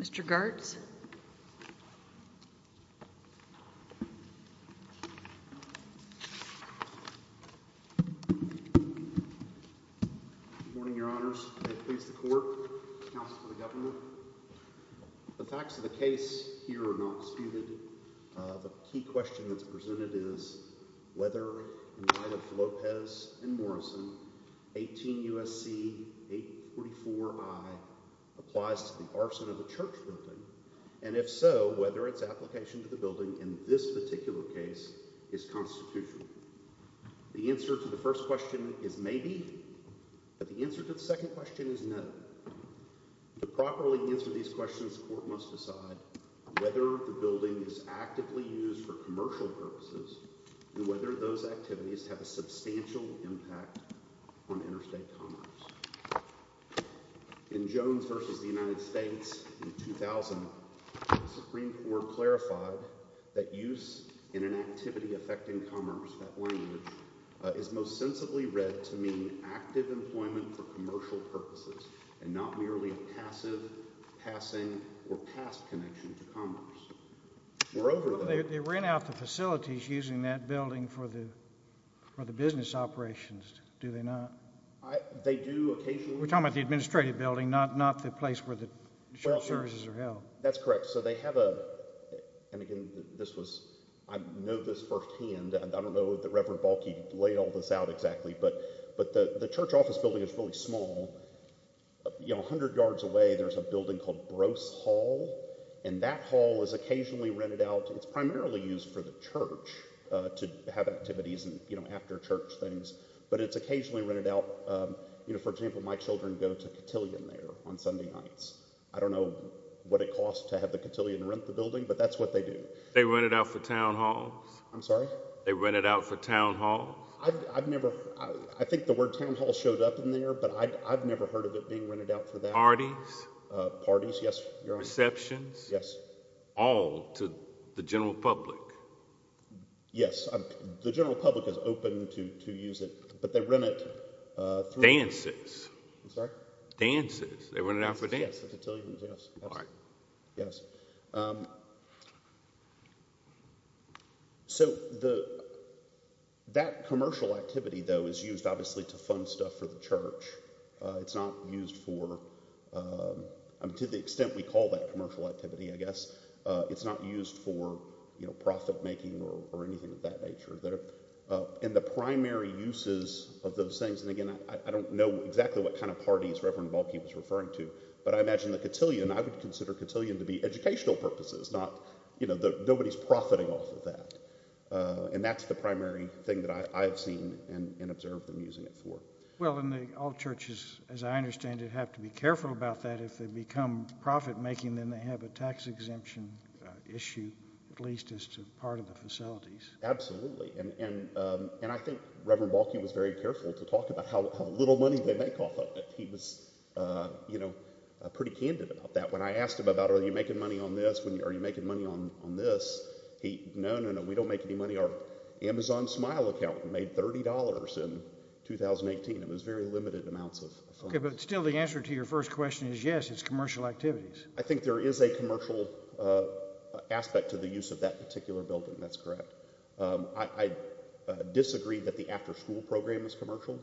Mr. Gartz? Good morning, your honors. Can I please the court, counsel to the government? The facts of the case here are not disputed. The key question that's presented is whether and by the Lopez and Morrison 18 U.S.C. 844i applies to the arson of a church building, and if so, whether its application to the building in this particular case is constitutional. The answer to the first question is maybe, but the answer to the second question is no. To properly answer these questions, the court must decide whether the building is actively used for commercial purposes and whether those activities have a substantial impact on interstate commerce. In Jones v. The United States in 2000, the Supreme Court clarified that use in an activity affecting commerce, that language, is most sensibly read to mean active employment for commercial purposes and not merely a passive, passing, or past connection to commerce. They rent out the facilities using that building for the business operations, do they not? They do occasionally. We're talking about the administrative building, not the place where the church services are held. That's correct. So they have a, and again, this was, I know this firsthand, I don't know if the Reverend Balke laid all this out exactly, but the church office building is really small. You know, a hundred yards away, there's a building called Brose Hall, and that hall is occasionally rented out. It's primarily used for the church to have activities and, you know, after church things, but it's occasionally rented out. You know, for example, my children go to Cotillion there on Sunday nights. I don't know what it costs to have the Cotillion rent the building, but that's what they do. They rent it out for town halls? I'm sorry? They rent it out for town halls? I've never, I think the word town hall showed up in there, but I've never heard of it being rented out for that. Parties? Parties, yes. Receptions? Yes. All to the general public? Yes. The general public is open to use it, but they rent it through- Dances. I'm sorry? Dances. They rent it out for dances. Yes, the Cotillions, yes. All right. Yes. So that commercial activity, though, is used, obviously, to fund stuff for the church. It's not used for, to the extent we call that commercial activity, I guess, it's not used for, you know, profit making or anything of that nature. And the primary uses of those things, and again, I don't know exactly what kind of parties Reverend Balke was referring to, but I imagine the Cotillion, I would consider Cotillion to be educational purposes, not, you know, nobody's profiting off of that. And that's the primary thing that I've seen and observed them using it for. Well, and all churches, as I understand it, have to be careful about that. If they become profit making, then they have a tax exemption issue, at least as to part of the facilities. Absolutely. And I think Reverend Balke was very careful to talk about how little money they make off of it. He was, you know, pretty candid about that. When I asked him about are you making money on this, are you making money on this, he, no, no, no, we don't make any money. Our Amazon Smile account made $30 in 2018. It was very limited amounts of funds. Okay, but still the answer to your first question is yes, it's commercial activities. I think there is a commercial aspect to the use of that particular building. That's correct. I disagree that the after school program is commercial.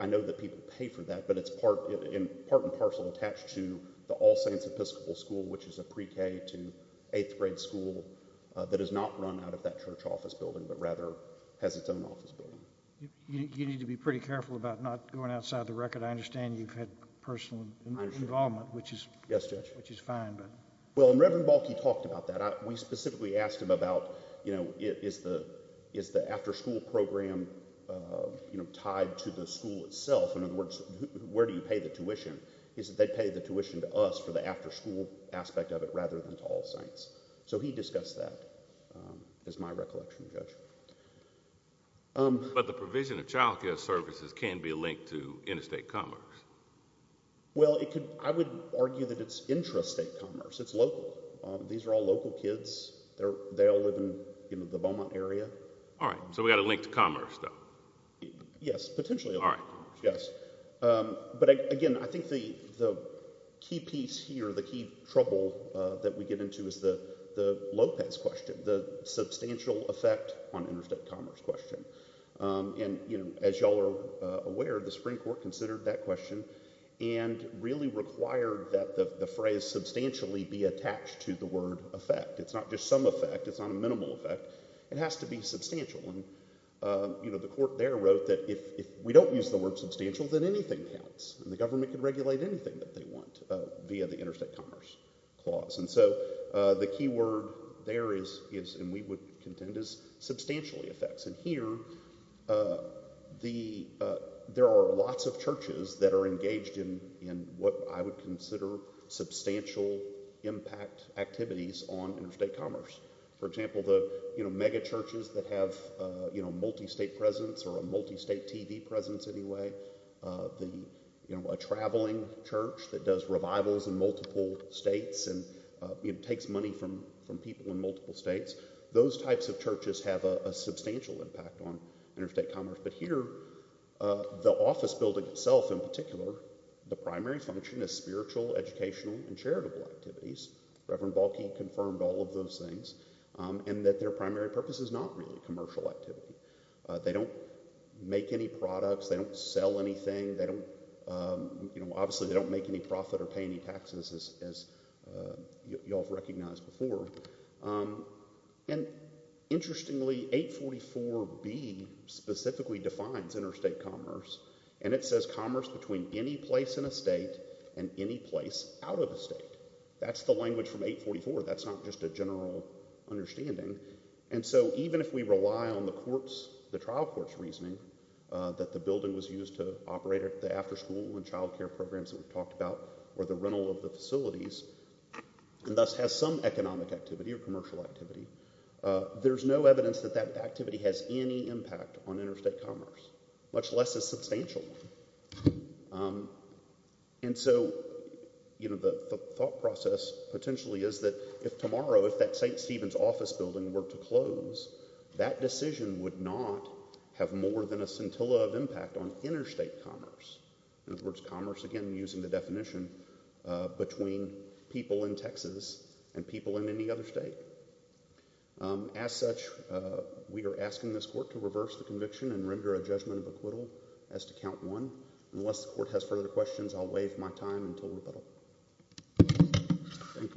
I know that people pay for that, but it's part and parcel attached to the All Saints Episcopal School, which is a pre-K to eighth grade school that is not run out of that church office building, but rather has its own office building. You need to be pretty careful about not going outside the record. I understand you've had personal involvement, which is fine. Yes, Judge. Well, and Reverend Balke talked about that. We specifically asked him about, you know, is the after school program, you know, tied to the school itself? In other words, where do you pay the tuition? He said they pay the tuition to us for the after school aspect of it rather than to All Saints. So he discussed that, is my recollection, Judge. But the provision of child care services can be linked to interstate commerce. Well, I would argue that it's intrastate commerce. It's local. These are all local kids. They all live in, you know, the Beaumont area. All right, so we've got to link to commerce, though. Yes, potentially. All right. Yes. But, again, I think the key piece here, the key trouble that we get into is the Lopez question, the substantial effect on interstate commerce question. And, you know, as you all are aware, the Supreme Court considered that question and really required that the phrase substantially be attached to the word effect. It's not just some effect. It's not a minimal effect. It has to be substantial. And, you know, the court there wrote that if we don't use the word substantial, then anything counts, and the government can regulate anything that they want via the interstate commerce clause. And so the key word there is, and we would contend, is substantially effects. And here there are lots of churches that are engaged in what I would consider substantial impact activities on interstate commerce. For example, the megachurches that have a multistate presence, or a multistate TV presence anyway, a traveling church that does revivals in multiple states and takes money from people in multiple states, those types of churches have a substantial impact on interstate commerce. But here the office building itself in particular, the primary function is spiritual, educational, and charitable activities. Reverend Balki confirmed all of those things. And that their primary purpose is not really commercial activity. They don't make any products. They don't sell anything. They don't, you know, obviously they don't make any profit or pay any taxes, as you all have recognized before. And interestingly, 844B specifically defines interstate commerce, and it says commerce between any place in a state and any place out of a state. That's the language from 844. That's not just a general understanding. And so even if we rely on the trial court's reasoning that the building was used to operate the after-school and child care programs that we've talked about, or the rental of the facilities, and thus has some economic activity or commercial activity, there's no evidence that that activity has any impact on interstate commerce, much less a substantial one. And so, you know, the thought process potentially is that if tomorrow, if that St. Stephen's office building were to close, that decision would not have more than a scintilla of impact on interstate commerce. In other words, commerce, again, using the definition, between people in Texas and people in any other state. As such, we are asking this court to reverse the conviction and render a judgment of acquittal as to count one. Unless the court has further questions, I'll waive my time until rebuttal. Thank you.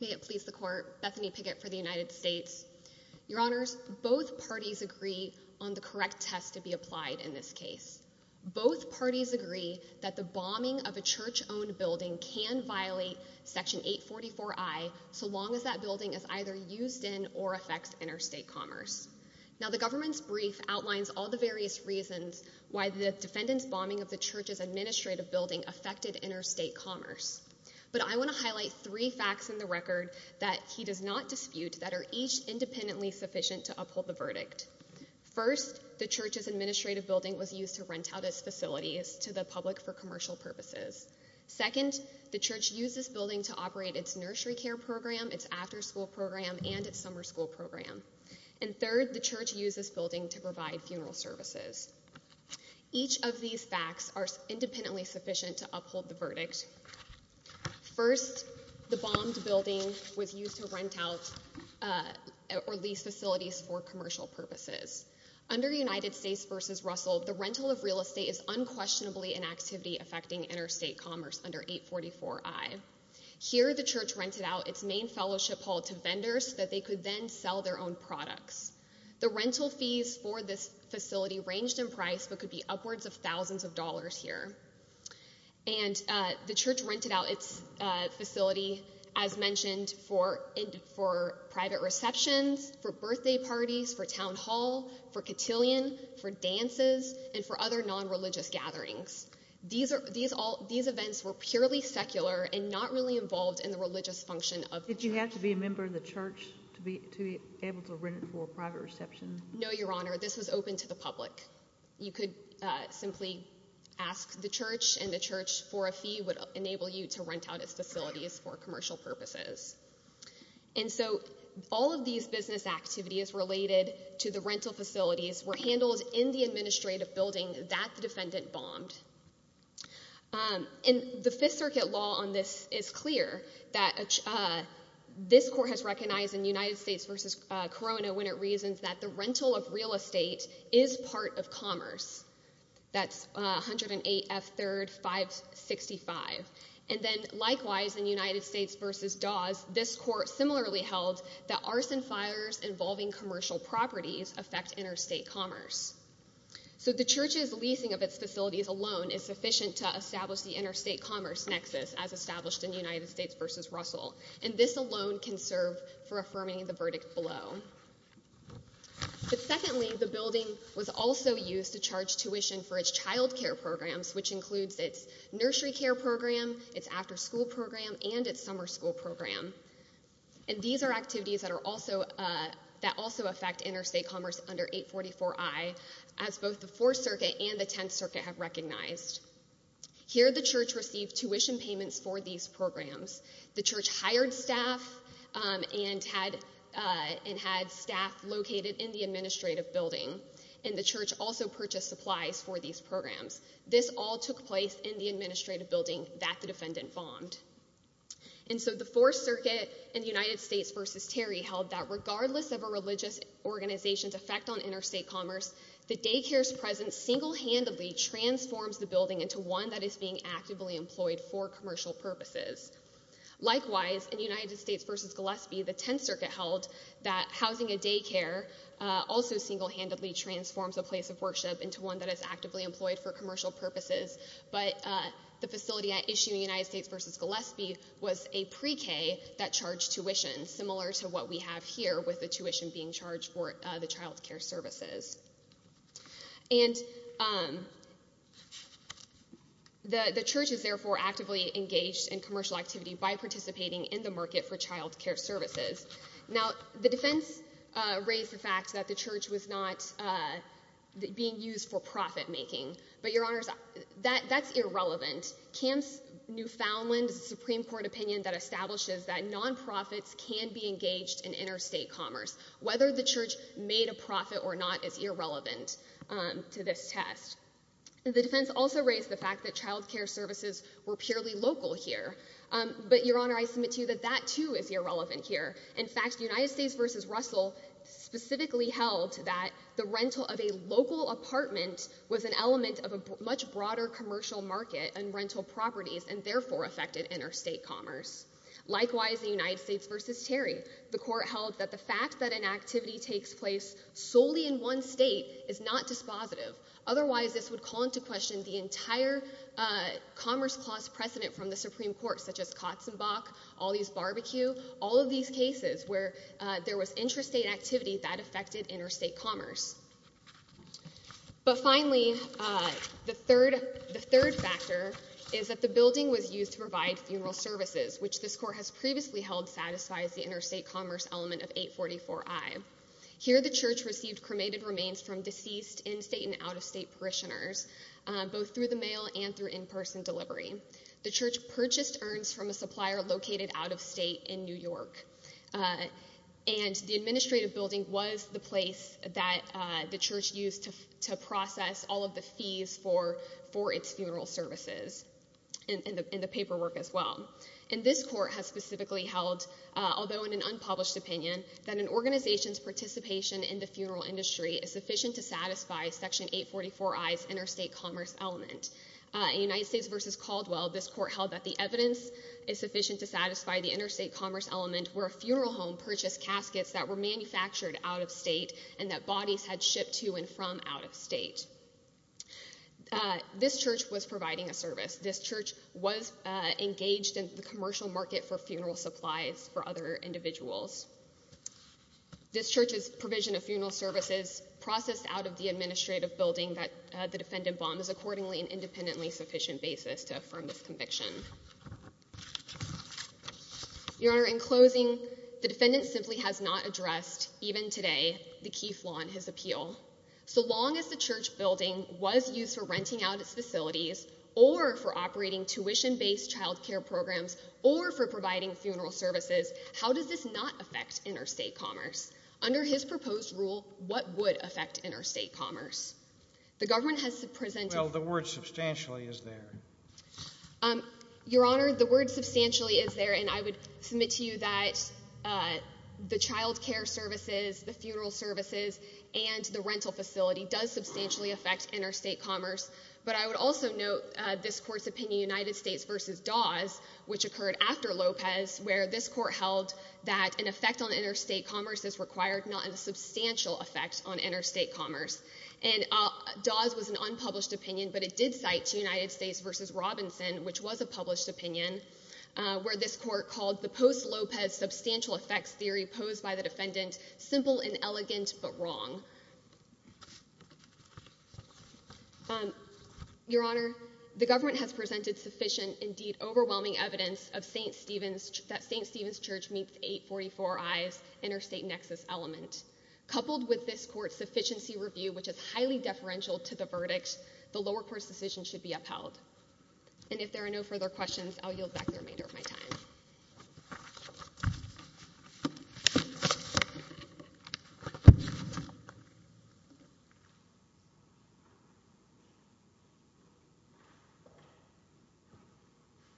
May it please the court. Bethany Pickett for the United States. Your Honors, both parties agree on the correct test to be applied in this case. Both parties agree that the bombing of a church-owned building can violate Section 844I so long as that building is either used in or affects interstate commerce. Now, the government's brief outlines all the various reasons why the defendant's bombing of the church's administrative building affected interstate commerce. But I want to highlight three facts in the record that he does not dispute that are each independently sufficient to uphold the verdict. First, the church's administrative building was used to rent out its facilities to the public for commercial purposes. Second, the church used this building to operate its nursery care program, its after-school program, and its summer school program. And third, the church used this building to provide funeral services. Each of these facts are independently sufficient to uphold the verdict. First, the bombed building was used to rent out or lease facilities for commercial purposes. Under United States v. Russell, the rental of real estate is unquestionably an activity affecting interstate commerce under 844I. Here, the church rented out its main fellowship hall to vendors so that they could then sell their own products. The rental fees for this facility ranged in price but could be upwards of thousands of dollars here. And the church rented out its facility, as mentioned, for private receptions, for birthday parties, for town hall, for cotillion, for dances, and for other nonreligious gatherings. These events were purely secular and not really involved in the religious function of the church. Did you have to be a member of the church to be able to rent it for a private reception? No, Your Honor. This was open to the public. You could simply ask the church, and the church, for a fee, would enable you to rent out its facilities for commercial purposes. And so all of these business activities related to the rental facilities were handled in the administrative building that the defendant bombed. And the Fifth Circuit law on this is clear, that this court has recognized in United States v. Corona when it reasons that the rental of real estate is part of commerce. That's 108F 3rd 565. And then, likewise, in United States v. Dawes, this court similarly held that arson fires involving commercial properties affect interstate commerce. So the church's leasing of its facilities alone is sufficient to establish the interstate commerce nexus as established in United States v. Russell. And this alone can serve for affirming the verdict below. But secondly, the building was also used to charge tuition for its child care programs, which includes its nursery care program, its after school program, and its summer school program. And these are activities that also affect interstate commerce under 844I, as both the Fourth Circuit and the Tenth Circuit have recognized. Here the church received tuition payments for these programs. The church hired staff and had staff located in the administrative building. And the church also purchased supplies for these programs. This all took place in the administrative building that the defendant bombed. And so the Fourth Circuit in United States v. Terry held that regardless of a religious organization's effect on interstate commerce, the daycare's presence single-handedly transforms the building into one that is being actively employed for commercial purposes. Likewise, in United States v. Gillespie, the Tenth Circuit held that housing a daycare also single-handedly transforms a place of worship into one that is actively employed for commercial purposes. But the facility at issue in United States v. Gillespie was a pre-K that charged tuition, similar to what we have here with the tuition being charged for the child care services. And the church is therefore actively engaged in commercial activity by participating in the market for child care services. Now the defense raised the fact that the church was not being used for profit-making. But, Your Honors, that's irrelevant. Camp's Newfoundland Supreme Court opinion that establishes that nonprofits can be engaged in interstate commerce. Whether the church made a profit or not is irrelevant to this test. The defense also raised the fact that child care services were purely local here. But, Your Honor, I submit to you that that too is irrelevant here. In fact, United States v. Russell specifically held that the rental of a local apartment was an element of a much broader commercial market and rental properties and therefore affected interstate commerce. Likewise, in United States v. Terry, the court held that the fact that an activity takes place solely in one state is not dispositive. Otherwise, this would call into question the entire commerce clause precedent from the Supreme Court, such as Katzenbach, all these barbecues, all of these cases where there was interstate activity that affected interstate commerce. But finally, the third factor is that the building was used to provide funeral services. Which this court has previously held satisfies the interstate commerce element of 844i. Here the church received cremated remains from deceased in-state and out-of-state parishioners, both through the mail and through in-person delivery. The church purchased urns from a supplier located out-of-state in New York. And the administrative building was the place that the church used to process all of the fees for its funeral services and the paperwork as well. And this court has specifically held, although in an unpublished opinion, that an organization's participation in the funeral industry is sufficient to satisfy Section 844i's interstate commerce element. In United States v. Caldwell, this court held that the evidence is sufficient to satisfy the interstate commerce element where a funeral home purchased caskets that were manufactured out-of-state and that bodies had shipped to and from out-of-state. This church was providing a service. This church was engaged in the commercial market for funeral supplies for other individuals. This church's provision of funeral services processed out of the administrative building that the defendant bombed is accordingly an independently sufficient basis to affirm this conviction. Your Honor, in closing, the defendant simply has not addressed, even today, the Keith Law and his appeal. So long as the church building was used for renting out its facilities or for operating tuition-based child care programs or for providing funeral services, how does this not affect interstate commerce? Under his proposed rule, what would affect interstate commerce? The government has presented... Well, the word substantially is there. Your Honor, the word substantially is there, and I would submit to you that the child care services, the funeral services, and the rental facility does substantially affect interstate commerce. But I would also note this Court's opinion, United States v. Dawes, which occurred after Lopez, where this Court held that an effect on interstate commerce is required, not a substantial effect on interstate commerce. And Dawes was an unpublished opinion, but it did cite United States v. Robinson, which was a published opinion, where this Court called the post-Lopez substantial effects theory proposed by the defendant simple and elegant but wrong. Your Honor, the government has presented sufficient, indeed overwhelming, evidence that St. Stephen's Church meets 844i's interstate nexus element. Coupled with this Court's sufficiency review, which is highly deferential to the verdict, the lower court's decision should be upheld. And if there are no further questions, I'll yield back the remainder of my time.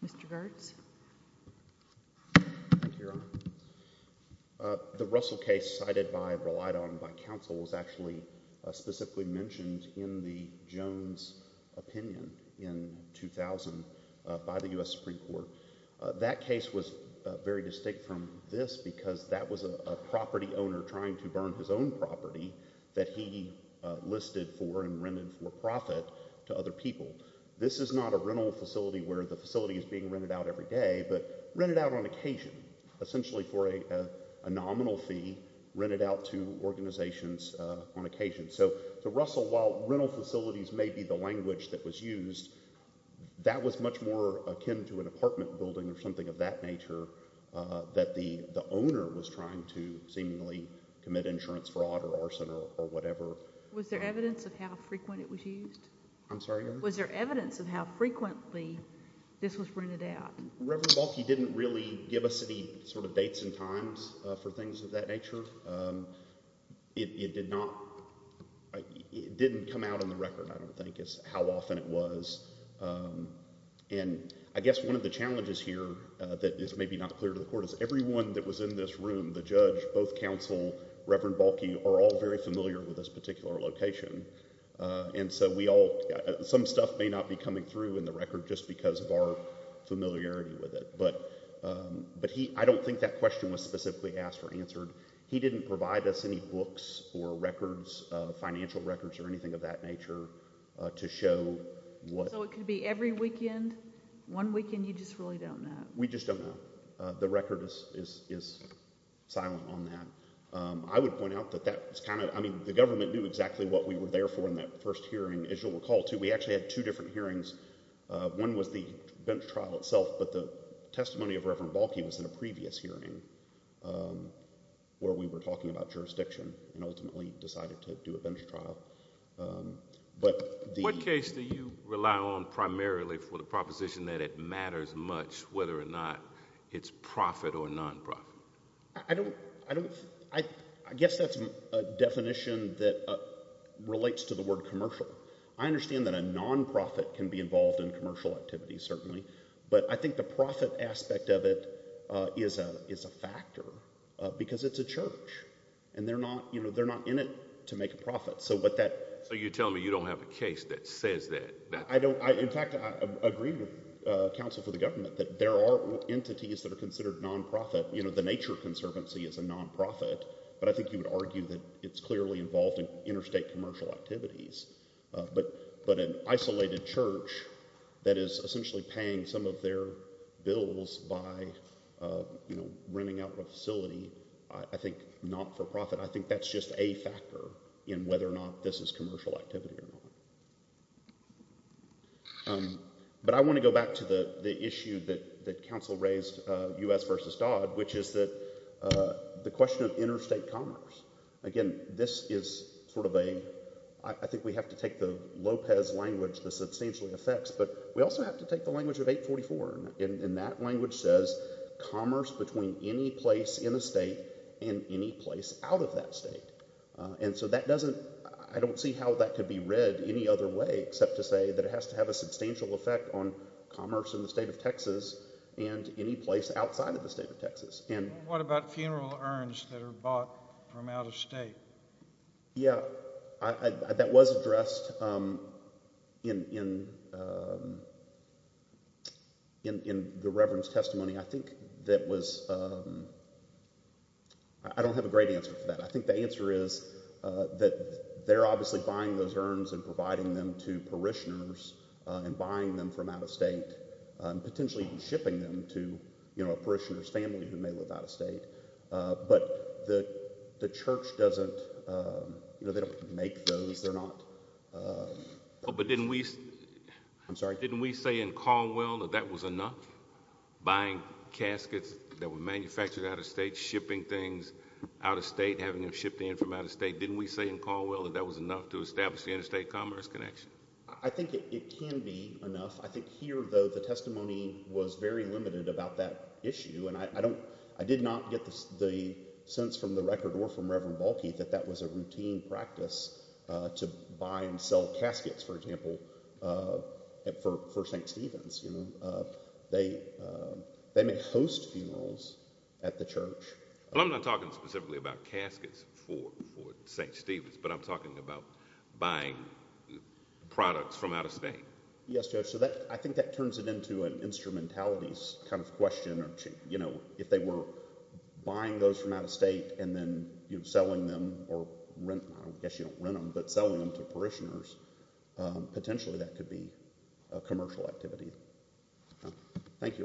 Mr. Gertz. Thank you, Your Honor. The Russell case cited by Raleida and by counsel was actually specifically mentioned in the Jones opinion in 2000 by the U.S. Supreme Court. That case was very distinct from this because that was a property owner trying to burn his own property that he listed for and rented for profit to other people. This is not a rental facility where the facility is being rented out every day, but rented out on occasion, essentially for a nominal fee, rented out to organizations on occasion. So the Russell, while rental facilities may be the language that was used, that was much more akin to an apartment building or something of that nature that the owner was trying to seemingly commit insurance fraud or arson or whatever. Was there evidence of how frequent it was used? I'm sorry, Your Honor? Was there evidence of how frequently this was rented out? Reverend Balki didn't really give us any sort of dates and times for things of that nature. It did not—it didn't come out on the record, I don't think, is how often it was. And I guess one of the challenges here that is maybe not clear to the court is everyone that was in this room, the judge, both counsel, Reverend Balki, are all very familiar with this particular location. And so we all—some stuff may not be coming through in the record just because of our familiarity with it. But I don't think that question was specifically asked or answered. He didn't provide us any books or records, financial records or anything of that nature, to show what— So it could be every weekend? One weekend, you just really don't know? We just don't know. The record is silent on that. I would point out that that was kind of—I mean, the government knew exactly what we were there for in that first hearing, as you'll recall, too. We actually had two different hearings. One was the bench trial itself, but the testimony of Reverend Balki was in a previous hearing. Where we were talking about jurisdiction and ultimately decided to do a bench trial. But the— What case do you rely on primarily for the proposition that it matters much, whether or not it's profit or non-profit? I don't—I guess that's a definition that relates to the word commercial. I understand that a non-profit can be involved in commercial activities, certainly. But I think the profit aspect of it is a factor because it's a church, and they're not in it to make a profit. So you're telling me you don't have a case that says that? In fact, I agree with counsel for the government that there are entities that are considered non-profit. The Nature Conservancy is a non-profit, but I think you would argue that it's clearly involved in interstate commercial activities. But an isolated church that is essentially paying some of their bills by renting out a facility, I think not for profit. I think that's just a factor in whether or not this is commercial activity or not. But I want to go back to the issue that counsel raised, U.S. v. Dodd, which is the question of interstate commerce. Again, this is sort of a—I think we have to take the Lopez language that substantially affects, but we also have to take the language of 844, and that language says commerce between any place in a state and any place out of that state. And so that doesn't—I don't see how that could be read any other way except to say that it has to have a substantial effect on commerce in the state of Texas and any place outside of the state of Texas. What about funeral urns that are bought from out of state? Yeah, that was addressed in the reverend's testimony. I think that was—I don't have a great answer for that. I think the answer is that they're obviously buying those urns and providing them to parishioners and buying them from out of state, potentially even shipping them to a parishioner's family who may live out of state. But the church doesn't—they don't make those. They're not— But didn't we— I'm sorry? Didn't we say in Caldwell that that was enough, buying caskets that were manufactured out of state, shipping things out of state, having them shipped in from out of state? Didn't we say in Caldwell that that was enough to establish the interstate commerce connection? I think it can be enough. I think here, though, the testimony was very limited about that issue, and I did not get the sense from the record or from Reverend Balke that that was a routine practice to buy and sell caskets, for example, for St. Stephen's. They may host funerals at the church. I'm not talking specifically about caskets for St. Stephen's, but I'm talking about buying products from out of state. Yes, Judge. So I think that turns it into an instrumentality kind of question. If they were buying those from out of state and then selling them or— I guess you don't rent them, but selling them to parishioners, potentially that could be a commercial activity. Thank you, Your Honor.